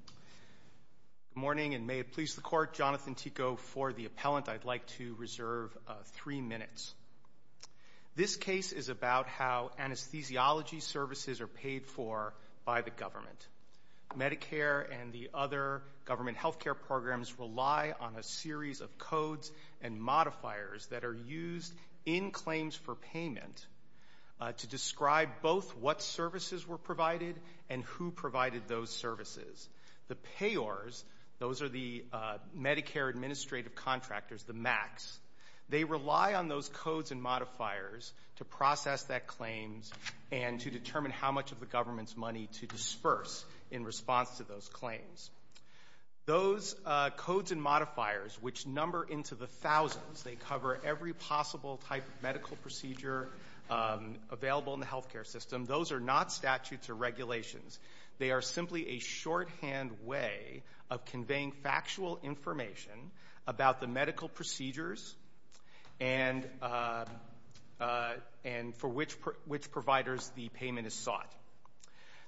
Good morning, and may it please the Court, Jonathan Tico for the appellant. I'd like to reserve three minutes. This case is about how anesthesiology services are paid for by the government. Medicare and the other government health care programs rely on a series of codes and modifiers that are used in claims for payment to describe both what services were provided and who provided those services. The payors, those are the Medicare administrative contractors, the MACs, they rely on those codes and modifiers to process that claims and to determine how much of the government's money to disperse in response to those claims. Those codes and modifiers, which number into the thousands, they cover every possible type of medical procedure available in the health care system, those are not statutes or regulations. They are simply a shorthand way of conveying factual information about the medical procedures and for which providers the payment is sought.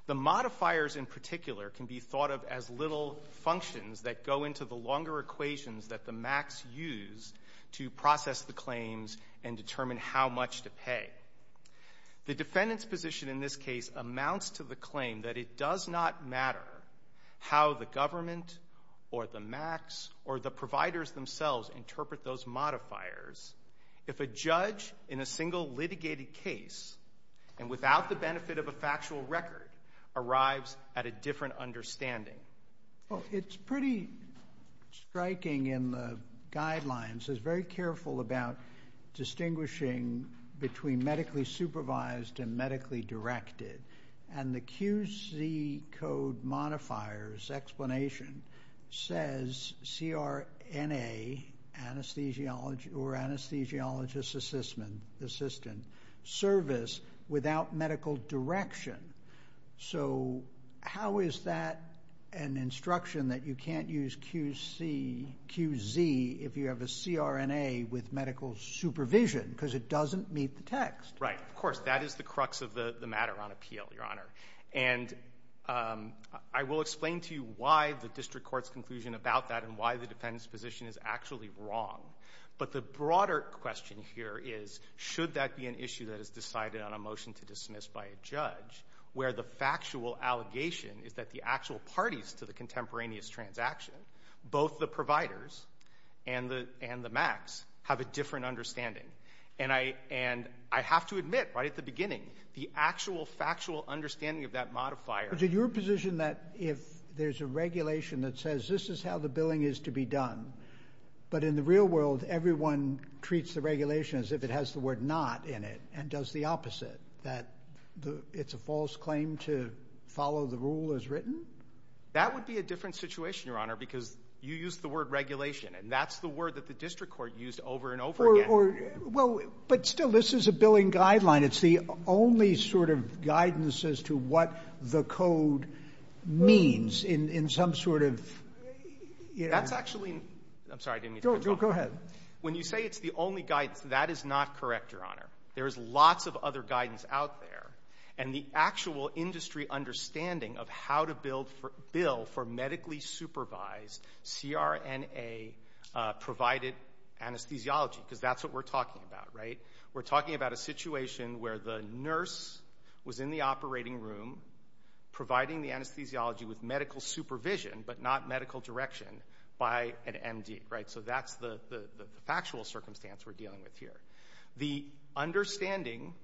The modifiers in particular can be thought of as little functions that go into the longer equations that the MACs use to process the claims and determine how much to pay. The defendant's position in this case amounts to the claim that it does not matter how the government or the MACs or the providers themselves interpret those modifiers if a judge in a single litigated case and without the benefit of a factual record arrives at a different understanding. Well, it's pretty striking in the guidelines. It's very careful about distinguishing between medically supervised and medically directed. And the QC code modifier's explanation says CRNA or anesthesiologist assistant service without medical direction. So how is that an instruction that you can't use QC, QZ, if you have a CRNA with medical supervision because it doesn't meet the text? Right. Of course, that is the crux of the matter on appeal, Your Honor. And I will explain to you why the district court's conclusion about that and why the defendant's position is actually wrong. But the broader question here is should that be an issue that is decided on a motion to dismiss by a judge where the factual allegation is that the actual parties to the contemporaneous transaction, both the providers and the MACs, have a different understanding? And I have to admit right at the beginning the actual factual understanding of that modifier. But is it your position that if there's a regulation that says this is how the billing is to be done, but in the real world everyone treats the regulation as if it has the word not in it and does the opposite, that it's a false claim to follow the rule as written? That would be a different situation, Your Honor, because you used the word regulation, and that's the word that the district court used over and over again. But still, this is a billing guideline. It's the only sort of guidance as to what the code means in some sort of ---- That's actually ---- I'm sorry. Go ahead. When you say it's the only guidance, that is not correct, Your Honor. There is lots of other guidance out there, and the actual industry understanding of how to bill for medically supervised CRNA-provided anesthesiology, because that's what we're talking about, right? We're talking about a situation where the nurse was in the operating room providing the anesthesiology with medical supervision but not medical direction by an MD, right? So that's the factual circumstance we're dealing with here. The understanding,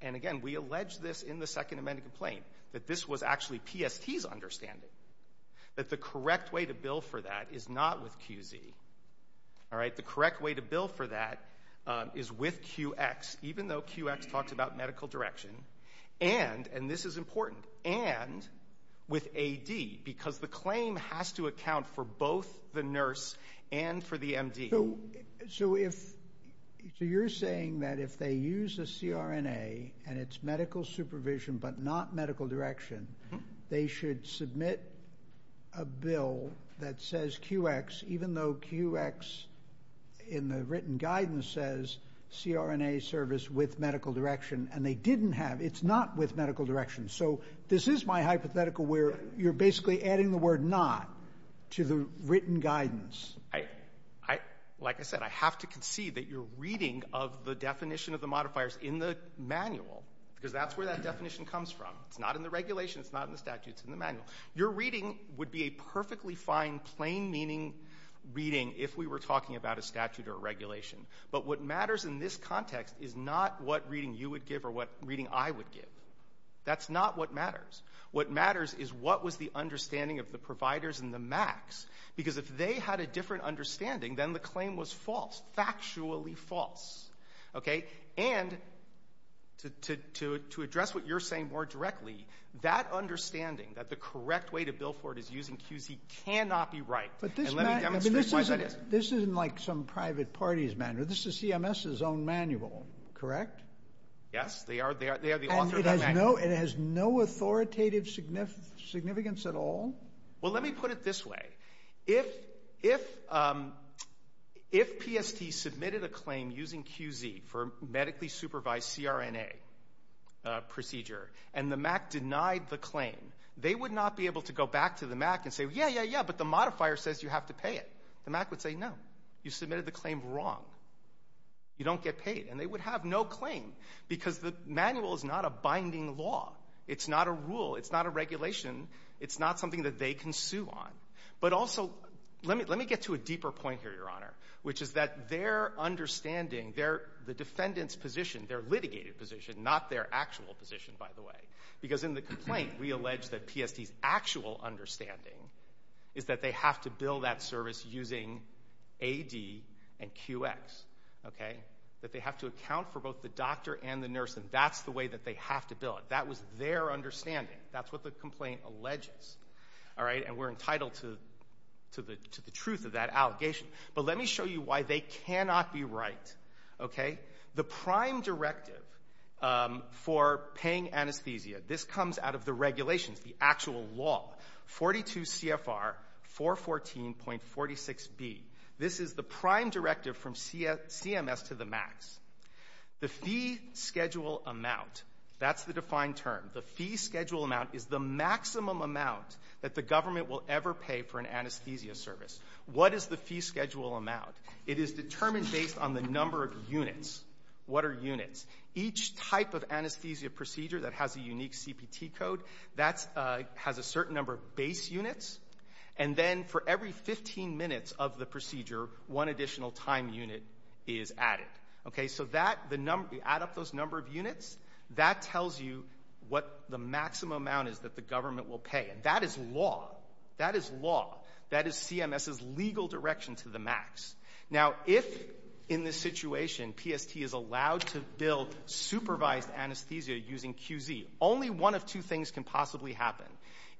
and again, we allege this in the Second Amendment complaint, that this was actually PST's understanding, that the correct way to bill for that is not with QZ. All right? The correct way to bill for that is with QX, even though QX talks about medical direction, and, and this is important, and with AD, because the claim has to account for both the nurse and for the MD. So if, so you're saying that if they use a CRNA and it's medical supervision but not medical direction, they should submit a bill that says QX, even though QX in the written guidance says CRNA service with medical direction, and they didn't have, it's not with medical direction. So this is my hypothetical where you're basically adding the word not to the written guidance. I, like I said, I have to concede that you're reading of the definition of the modifiers in the manual, because that's where that definition comes from. It's not in the regulation. It's not in the statute. It's in the manual. Your reading would be a perfectly fine, plain-meaning reading if we were talking about a statute or a regulation, but what matters in this context is not what reading you would give or what reading I would give. That's not what matters. What matters is what was the understanding of the providers and the MACs, because if they had a different understanding, then the claim was false, factually false. And to address what you're saying more directly, that understanding that the correct way to bill for it is using QZ cannot be right. And let me demonstrate why that is. This isn't like some private party's manual. This is CMS's own manual, correct? Yes, they are the author of that manual. And it has no authoritative significance at all? Well, let me put it this way. If PST submitted a claim using QZ for a medically supervised CRNA procedure and the MAC denied the claim, they would not be able to go back to the MAC and say, yeah, yeah, yeah, but the modifier says you have to pay it. The MAC would say, no, you submitted the claim wrong. You don't get paid. And they would have no claim, because the manual is not a binding law. It's not a rule. It's not a regulation. It's not something that they can sue on. But also, let me get to a deeper point here, Your Honor, which is that their understanding, the defendant's position, their litigated position, not their actual position, by the way, because in the complaint we allege that PST's actual understanding is that they have to bill that service using AD and QX, okay, that they have to account for both the doctor and the nurse, and that's the way that they have to bill it. That was their understanding. That's what the complaint alleges, and we're entitled to the truth of that allegation. But let me show you why they cannot be right. The prime directive for paying anesthesia, this comes out of the regulations, the actual law, 42 CFR 414.46B. This is the prime directive from CMS to the MACs. The fee schedule amount, that's the defined term. The fee schedule amount is the maximum amount that the government will ever pay for an anesthesia service. What is the fee schedule amount? It is determined based on the number of units. What are units? Each type of anesthesia procedure that has a unique CPT code, that has a certain number of base units, and then for every 15 minutes of the procedure, one additional time unit is added. Okay, so add up those number of units. That tells you what the maximum amount is that the government will pay. That is law. That is law. That is CMS's legal direction to the MACs. Now, if in this situation PST is allowed to bill supervised anesthesia using QZ, only one of two things can possibly happen.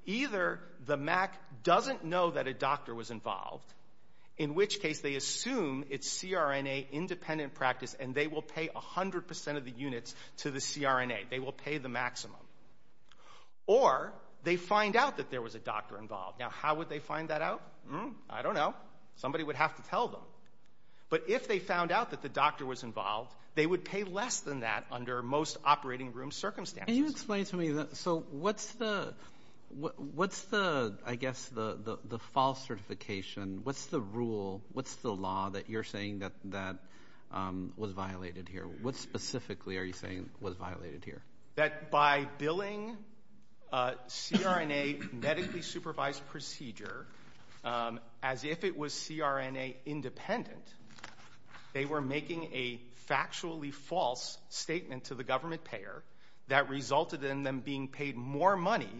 Either the MAC doesn't know that a doctor was involved, in which case they assume it's CRNA independent practice and they will pay 100% of the units to the CRNA. They will pay the maximum. Or they find out that there was a doctor involved. Now, how would they find that out? I don't know. Somebody would have to tell them. But if they found out that the doctor was involved, they would pay less than that under most operating room circumstances. Can you explain to me, so what's the, I guess, the false certification? What's the rule? What's the law that you're saying that was violated here? What specifically are you saying was violated here? That by billing CRNA medically supervised procedure as if it was CRNA independent, they were making a factually false statement to the government payer that resulted in them being paid more money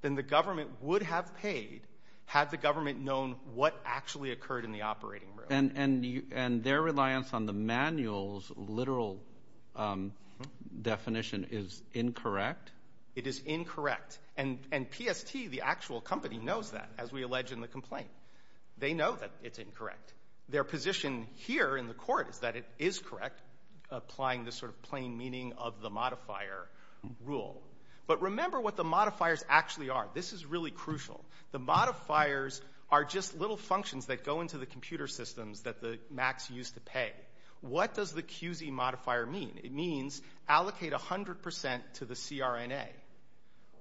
than the government would have paid had the government known what actually occurred in the operating room. And their reliance on the manual's literal definition is incorrect? It is incorrect. And PST, the actual company, knows that, as we allege in the complaint. They know that it's incorrect. Their position here in the court is that it is correct, applying the sort of plain meaning of the modifier rule. But remember what the modifiers actually are. This is really crucial. The modifiers are just little functions that go into the computer systems that the MACs use to pay. What does the QZ modifier mean? It means allocate 100% to the CRNA.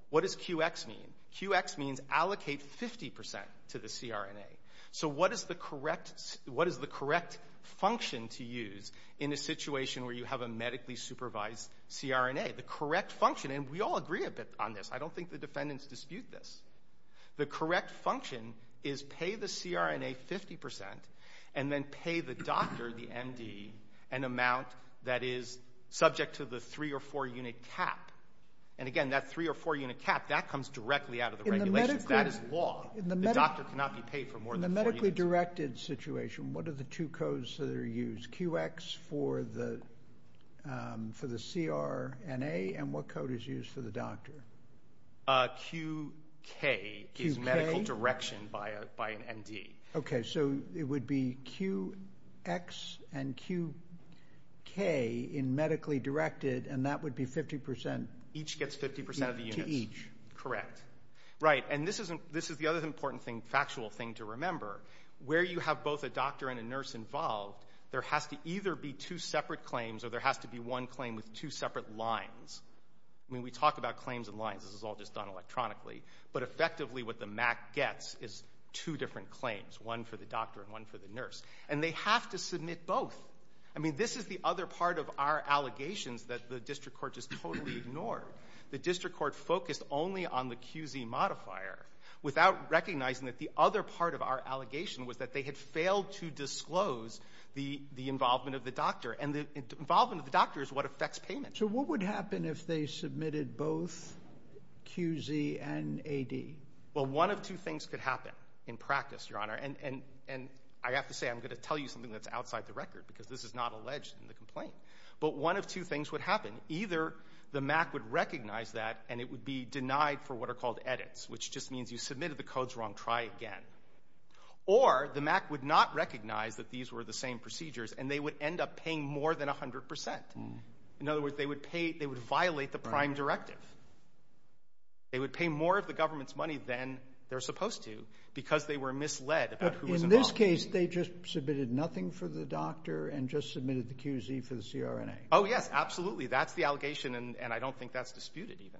What does QX mean? QX means allocate 50% to the CRNA. So what is the correct function to use in a situation where you have a medically supervised CRNA? The correct function, and we all agree a bit on this. I don't think the defendants dispute this. The correct function is pay the CRNA 50% and then pay the doctor, the MD, an amount that is subject to the three- or four-unit cap. And, again, that three- or four-unit cap, that comes directly out of the regulation. That is law. The doctor cannot be paid for more than four units. In the medically directed situation, what are the two codes that are used? QX for the CRNA, and what code is used for the doctor? QK is medical direction by an MD. Okay, so it would be QX and QK in medically directed, and that would be 50% to each. Correct. Right, and this is the other important factual thing to remember. Where you have both a doctor and a nurse involved, there has to either be two separate claims or there has to be one claim with two separate lines. I mean, we talk about claims and lines. This is all just done electronically. But, effectively, what the MAC gets is two different claims, one for the doctor and one for the nurse. And they have to submit both. I mean, this is the other part of our allegations that the district court just totally ignored. The district court focused only on the QZ modifier without recognizing that the other part of our allegation was that they had failed to disclose the involvement of the doctor. And the involvement of the doctor is what affects payment. So what would happen if they submitted both QZ and AD? Well, one of two things could happen in practice, Your Honor. And I have to say I'm going to tell you something that's outside the record because this is not alleged in the complaint. But one of two things would happen. Either the MAC would recognize that and it would be denied for what are called edits, which just means you submitted the codes wrong, try again. Or the MAC would not recognize that these were the same procedures and they would end up paying more than 100%. In other words, they would violate the prime directive. They would pay more of the government's money than they're supposed to because they were misled about who was involved. But in this case, they just submitted nothing for the doctor and just submitted the QZ for the CRNA. Oh, yes, absolutely. That's the allegation, and I don't think that's disputed even.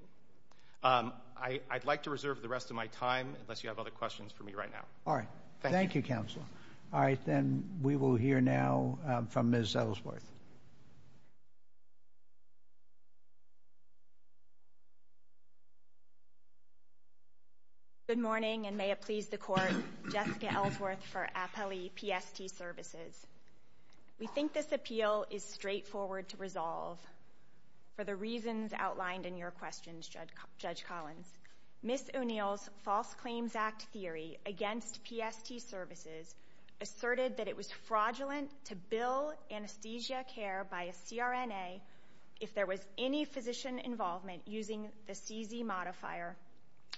I'd like to reserve the rest of my time unless you have other questions for me right now. All right. Thank you, Counselor. All right. Then we will hear now from Ms. Ellsworth. Good morning, and may it please the Court. Jessica Ellsworth for APELI PST Services. We think this appeal is straightforward to resolve for the reasons outlined in your questions, Judge Collins. Ms. O'Neill's False Claims Act theory against PST Services asserted that it was fraudulent to bill anesthesia care by a CRNA if there was any physician involvement using the CZ modifier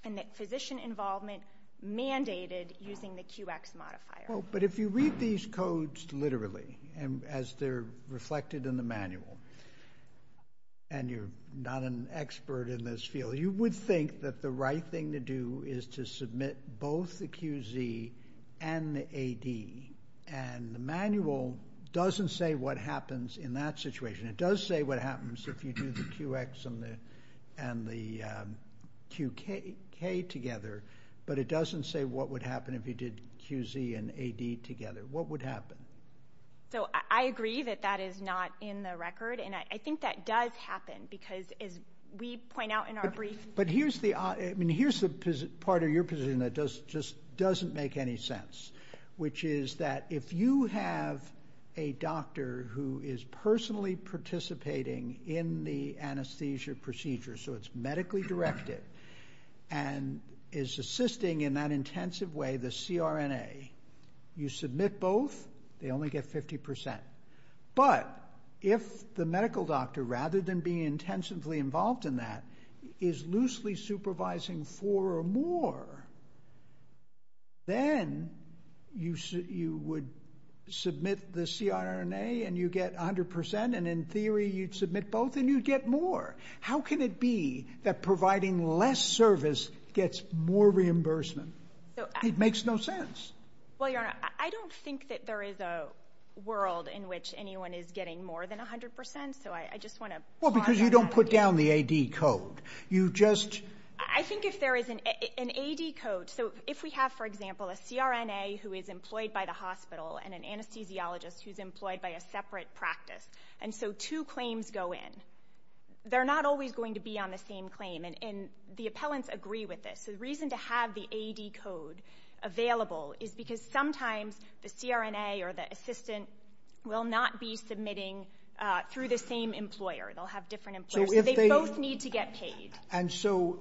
and that physician involvement mandated using the QX modifier. But if you read these codes literally as they're reflected in the manual, and you're not an expert in this field, you would think that the right thing to do is to submit both the QZ and the AD, and the manual doesn't say what happens in that situation. It does say what happens if you do the QX and the QK together, but it doesn't say what would happen if you did QZ and AD together. What would happen? I agree that that is not in the record, and I think that does happen because as we point out in our briefs. But here's the part of your position that just doesn't make any sense, which is that if you have a doctor who is personally participating in the anesthesia procedure, so it's medically directed, and is assisting in that intensive way the CRNA, you submit both, they only get 50%. But if the medical doctor, rather than being intensively involved in that, is loosely supervising four or more, then you would submit the CRNA and you get 100%, and in theory you'd submit both and you'd get more. How can it be that providing less service gets more reimbursement? It makes no sense. Well, Your Honor, I don't think that there is a world in which anyone is getting more than 100%, so I just want to point that out. Well, because you don't put down the AD code. I think if there is an AD code, so if we have, for example, a CRNA who is employed by the hospital and an anesthesiologist who's employed by a separate practice, and so two claims go in, they're not always going to be on the same claim, and the appellants agree with this. So the reason to have the AD code available is because sometimes the CRNA or the assistant will not be submitting through the same employer. They'll have different employers, so they both need to get paid. And so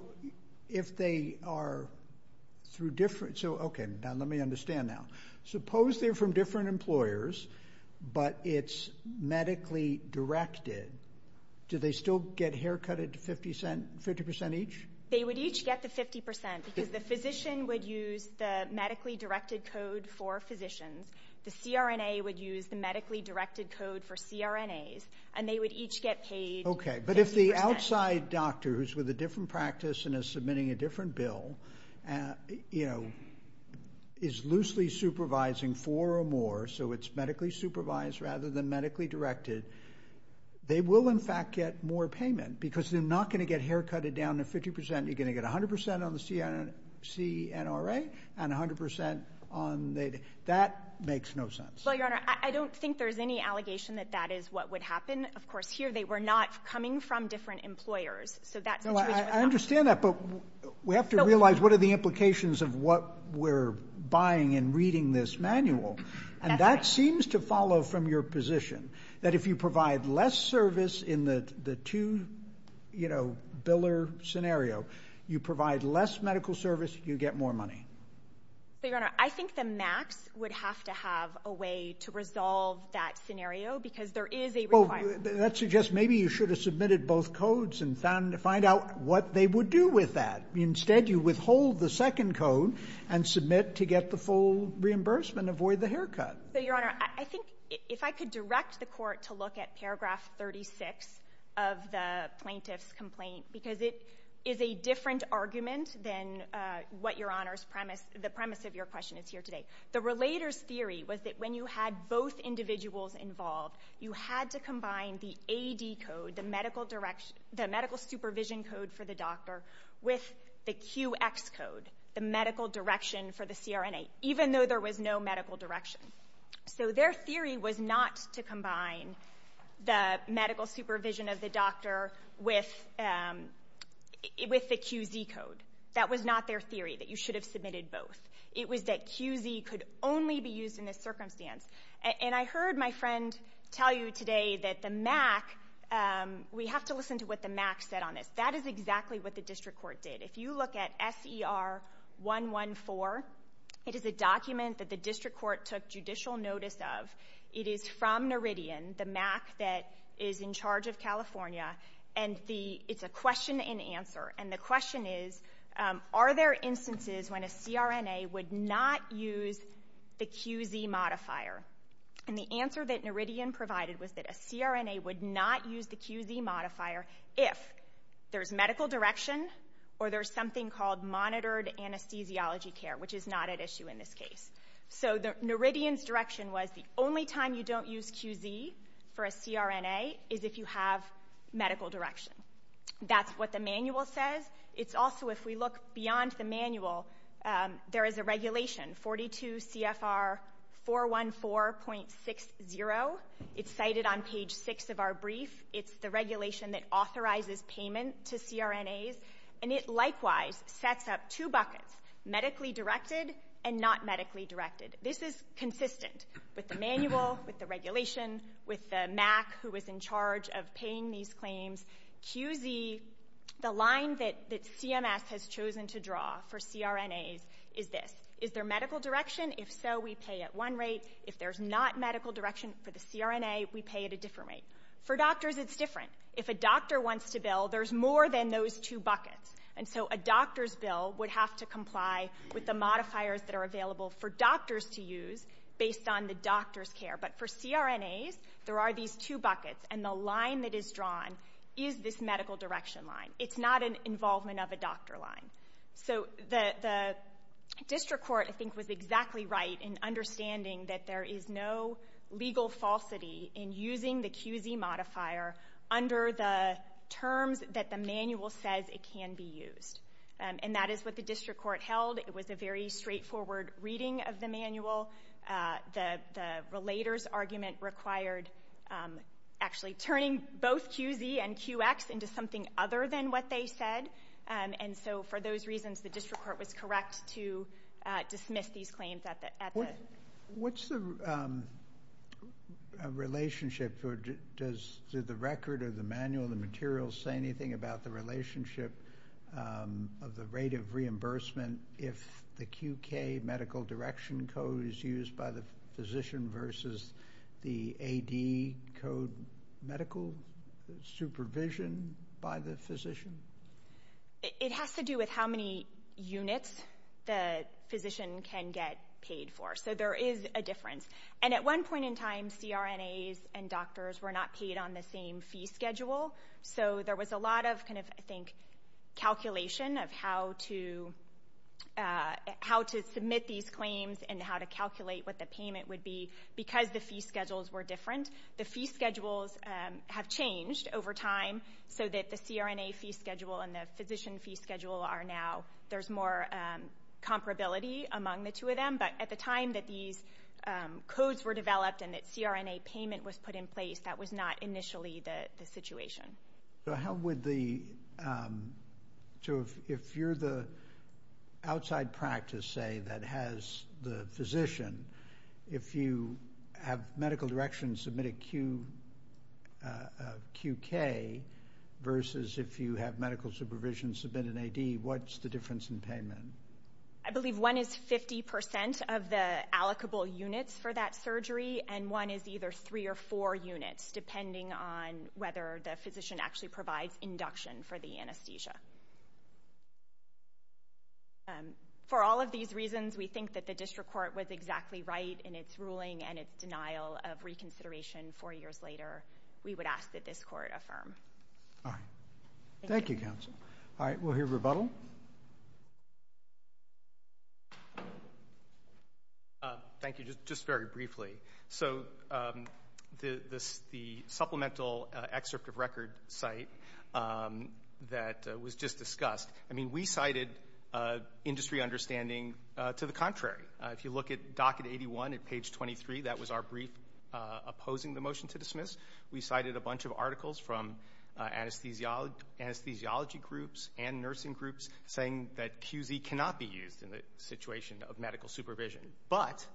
if they are through different... Okay, now let me understand now. Suppose they're from different employers, but it's medically directed. Do they still get haircut at 50% each? They would each get the 50% because the physician would use the medically directed code for physicians, the CRNA would use the medically directed code for CRNAs, and they would each get paid 50%. Okay, but if the outside doctor who's with a different practice and is submitting a different bill is loosely supervising four or more, so it's medically supervised rather than medically directed, they will in fact get more payment because they're not going to get haircut at down to 50%. You're going to get 100% on the CNRA and 100% on the... That makes no sense. Well, Your Honor, I don't think there's any allegation that that is what would happen. Of course, here they were not coming from different employers, so that situation was not... No, I understand that, but we have to realize what are the implications of what we're buying and reading this manual, and that seems to follow from your position, that if you provide less service in the two-biller scenario, you provide less medical service, you get more money. But, Your Honor, I think the MACs would have to have a way to resolve that scenario because there is a requirement. That suggests maybe you should have submitted both codes and found out what they would do with that. Instead, you withhold the second code and submit to get the full reimbursement, avoid the haircut. So, Your Honor, I think if I could direct the court to look at paragraph 36 of the plaintiff's complaint because it is a different argument than what Your Honor's premise, the premise of your question is here today. The relator's theory was that when you had both individuals involved, you had to combine the AD code, the medical supervision code for the doctor, with the QX code, the medical direction for the CRNA, even though there was no medical direction. So their theory was not to combine the medical supervision of the doctor with the QZ code. That was not their theory, that you should have submitted both. It was that QZ could only be used in this circumstance. And I heard my friend tell you today that the MAC, we have to listen to what the MAC said on this. That is exactly what the district court did. If you look at SER 114, it is a document that the district court took judicial notice of. It is from Noridian, the MAC that is in charge of California, and it's a question and answer. And the question is, are there instances when a CRNA would not use the QZ modifier? And the answer that Noridian provided was that a CRNA would not use the QZ modifier if there's medical direction or there's something called monitored anesthesiology care, which is not at issue in this case. So Noridian's direction was the only time you don't use QZ for a CRNA is if you have medical direction. That's what the manual says. It's also, if we look beyond the manual, there is a regulation, 42 CFR 414.60. It's cited on page 6 of our brief. It's the regulation that authorizes payment to CRNAs. And it likewise sets up two buckets, medically directed and not medically directed. This is consistent with the manual, with the regulation, with the MAC who was in charge of paying these claims. QZ, the line that CMS has chosen to draw for CRNAs is this. Is there medical direction? If so, we pay at one rate. If there's not medical direction for the CRNA, we pay at a different rate. For doctors, it's different. If a doctor wants to bill, there's more than those two buckets. And so a doctor's bill would have to comply with the modifiers that are available for doctors to use based on the doctor's care. But for CRNAs, there are these two buckets, and the line that is drawn is this medical direction line. It's not an involvement of a doctor line. So the district court, I think, was exactly right in understanding that there is no legal falsity in using the QZ modifier under the terms that the manual says it can be used. And that is what the district court held. It was a very straightforward reading of the manual. The relator's argument required actually turning both QZ and QX into something other than what they said. And so for those reasons, the district court was correct to dismiss these claims at the end. What's the relationship? Does the record or the manual, the materials, say anything about the relationship of the rate of reimbursement if the QK medical direction code is used by the physician versus the AD code medical supervision by the physician? It has to do with how many units the physician can get paid for. So there is a difference. And at one point in time, CRNAs and doctors were not paid on the same fee schedule, so there was a lot of, I think, calculation of how to submit these claims and how to calculate what the payment would be because the fee schedules were different. The fee schedules have changed over time so that the CRNA fee schedule and the physician fee schedule are now, there's more comparability among the two of them. But at the time that these codes were developed and that CRNA payment was put in place, that was not initially the situation. So if you're the outside practice, say, that has the physician, if you have medical direction submit a QK versus if you have medical supervision submit an AD, what's the difference in payment? I believe one is 50% of the allocable units for that surgery and one is either three or four units, depending on whether the physician actually provides induction for the anesthesia. For all of these reasons, we think that the district court was exactly right in its ruling and its denial of reconsideration four years later. We would ask that this court affirm. All right. Thank you, counsel. All right, we'll hear rebuttal. Thank you. Thank you, just very briefly. So the supplemental excerpt of record site that was just discussed, I mean, we cited industry understanding to the contrary. If you look at docket 81 at page 23, that was our brief opposing the motion to dismiss. We cited a bunch of articles from anesthesiology groups and nursing groups saying that QZ cannot be used in the situation of medical supervision. But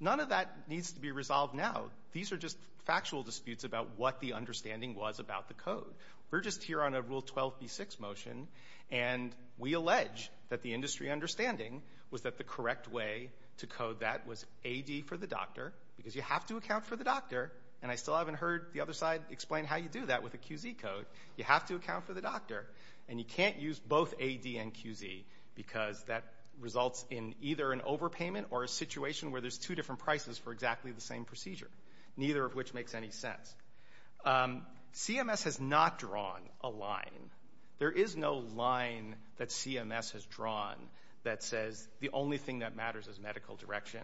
none of that needs to be resolved now. These are just factual disputes about what the understanding was about the code. We're just here on a Rule 12b-6 motion, and we allege that the industry understanding was that the correct way to code that was AD for the doctor, because you have to account for the doctor, and I still haven't heard the other side explain how you do that with a QZ code. You have to account for the doctor, and you can't use both AD and QZ, because that results in either an overpayment or a situation where there's two different prices for exactly the same procedure, neither of which makes any sense. CMS has not drawn a line. There is no line that CMS has drawn that says the only thing that matters is medical direction.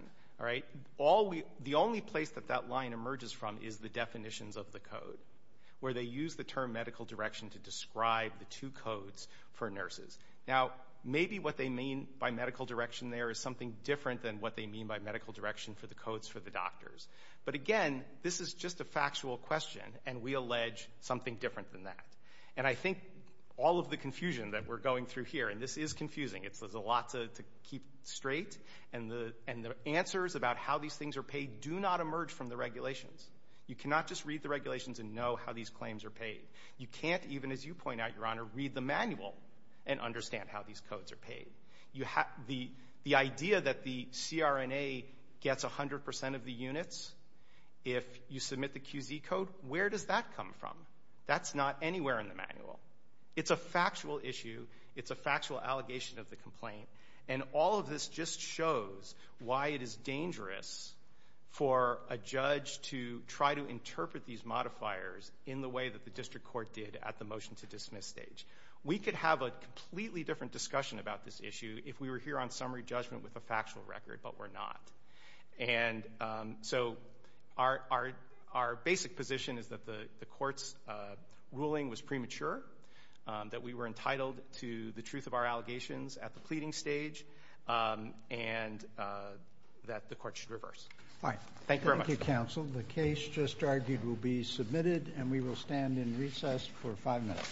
The only place that that line emerges from is the definitions of the code, where they use the term medical direction to describe the two codes for nurses. Now, maybe what they mean by medical direction there is something different than what they mean by medical direction for the codes for the doctors. But again, this is just a factual question, and we allege something different than that. And I think all of the confusion that we're going through here, and this is confusing. There's a lot to keep straight, and the answers about how these things are paid do not emerge from the regulations. You cannot just read the regulations and know how these claims are paid. You can't even, as you point out, Your Honor, read the manual and understand how these codes are paid. The idea that the CRNA gets 100% of the units if you submit the QZ code, where does that come from? That's not anywhere in the manual. It's a factual issue. It's a factual allegation of the complaint. And all of this just shows why it is dangerous for a judge to try to interpret these modifiers in the way that the district court did at the motion-to-dismiss stage. We could have a completely different discussion about this issue if we were here on summary judgment with a factual record, but we're not. And so our basic position is that the court's ruling was premature, that we were entitled to the truth of our allegations at the pleading stage, and that the court should reverse. Thank you very much. Thank you, counsel. The case just argued will be submitted, and we will stand in recess for five minutes.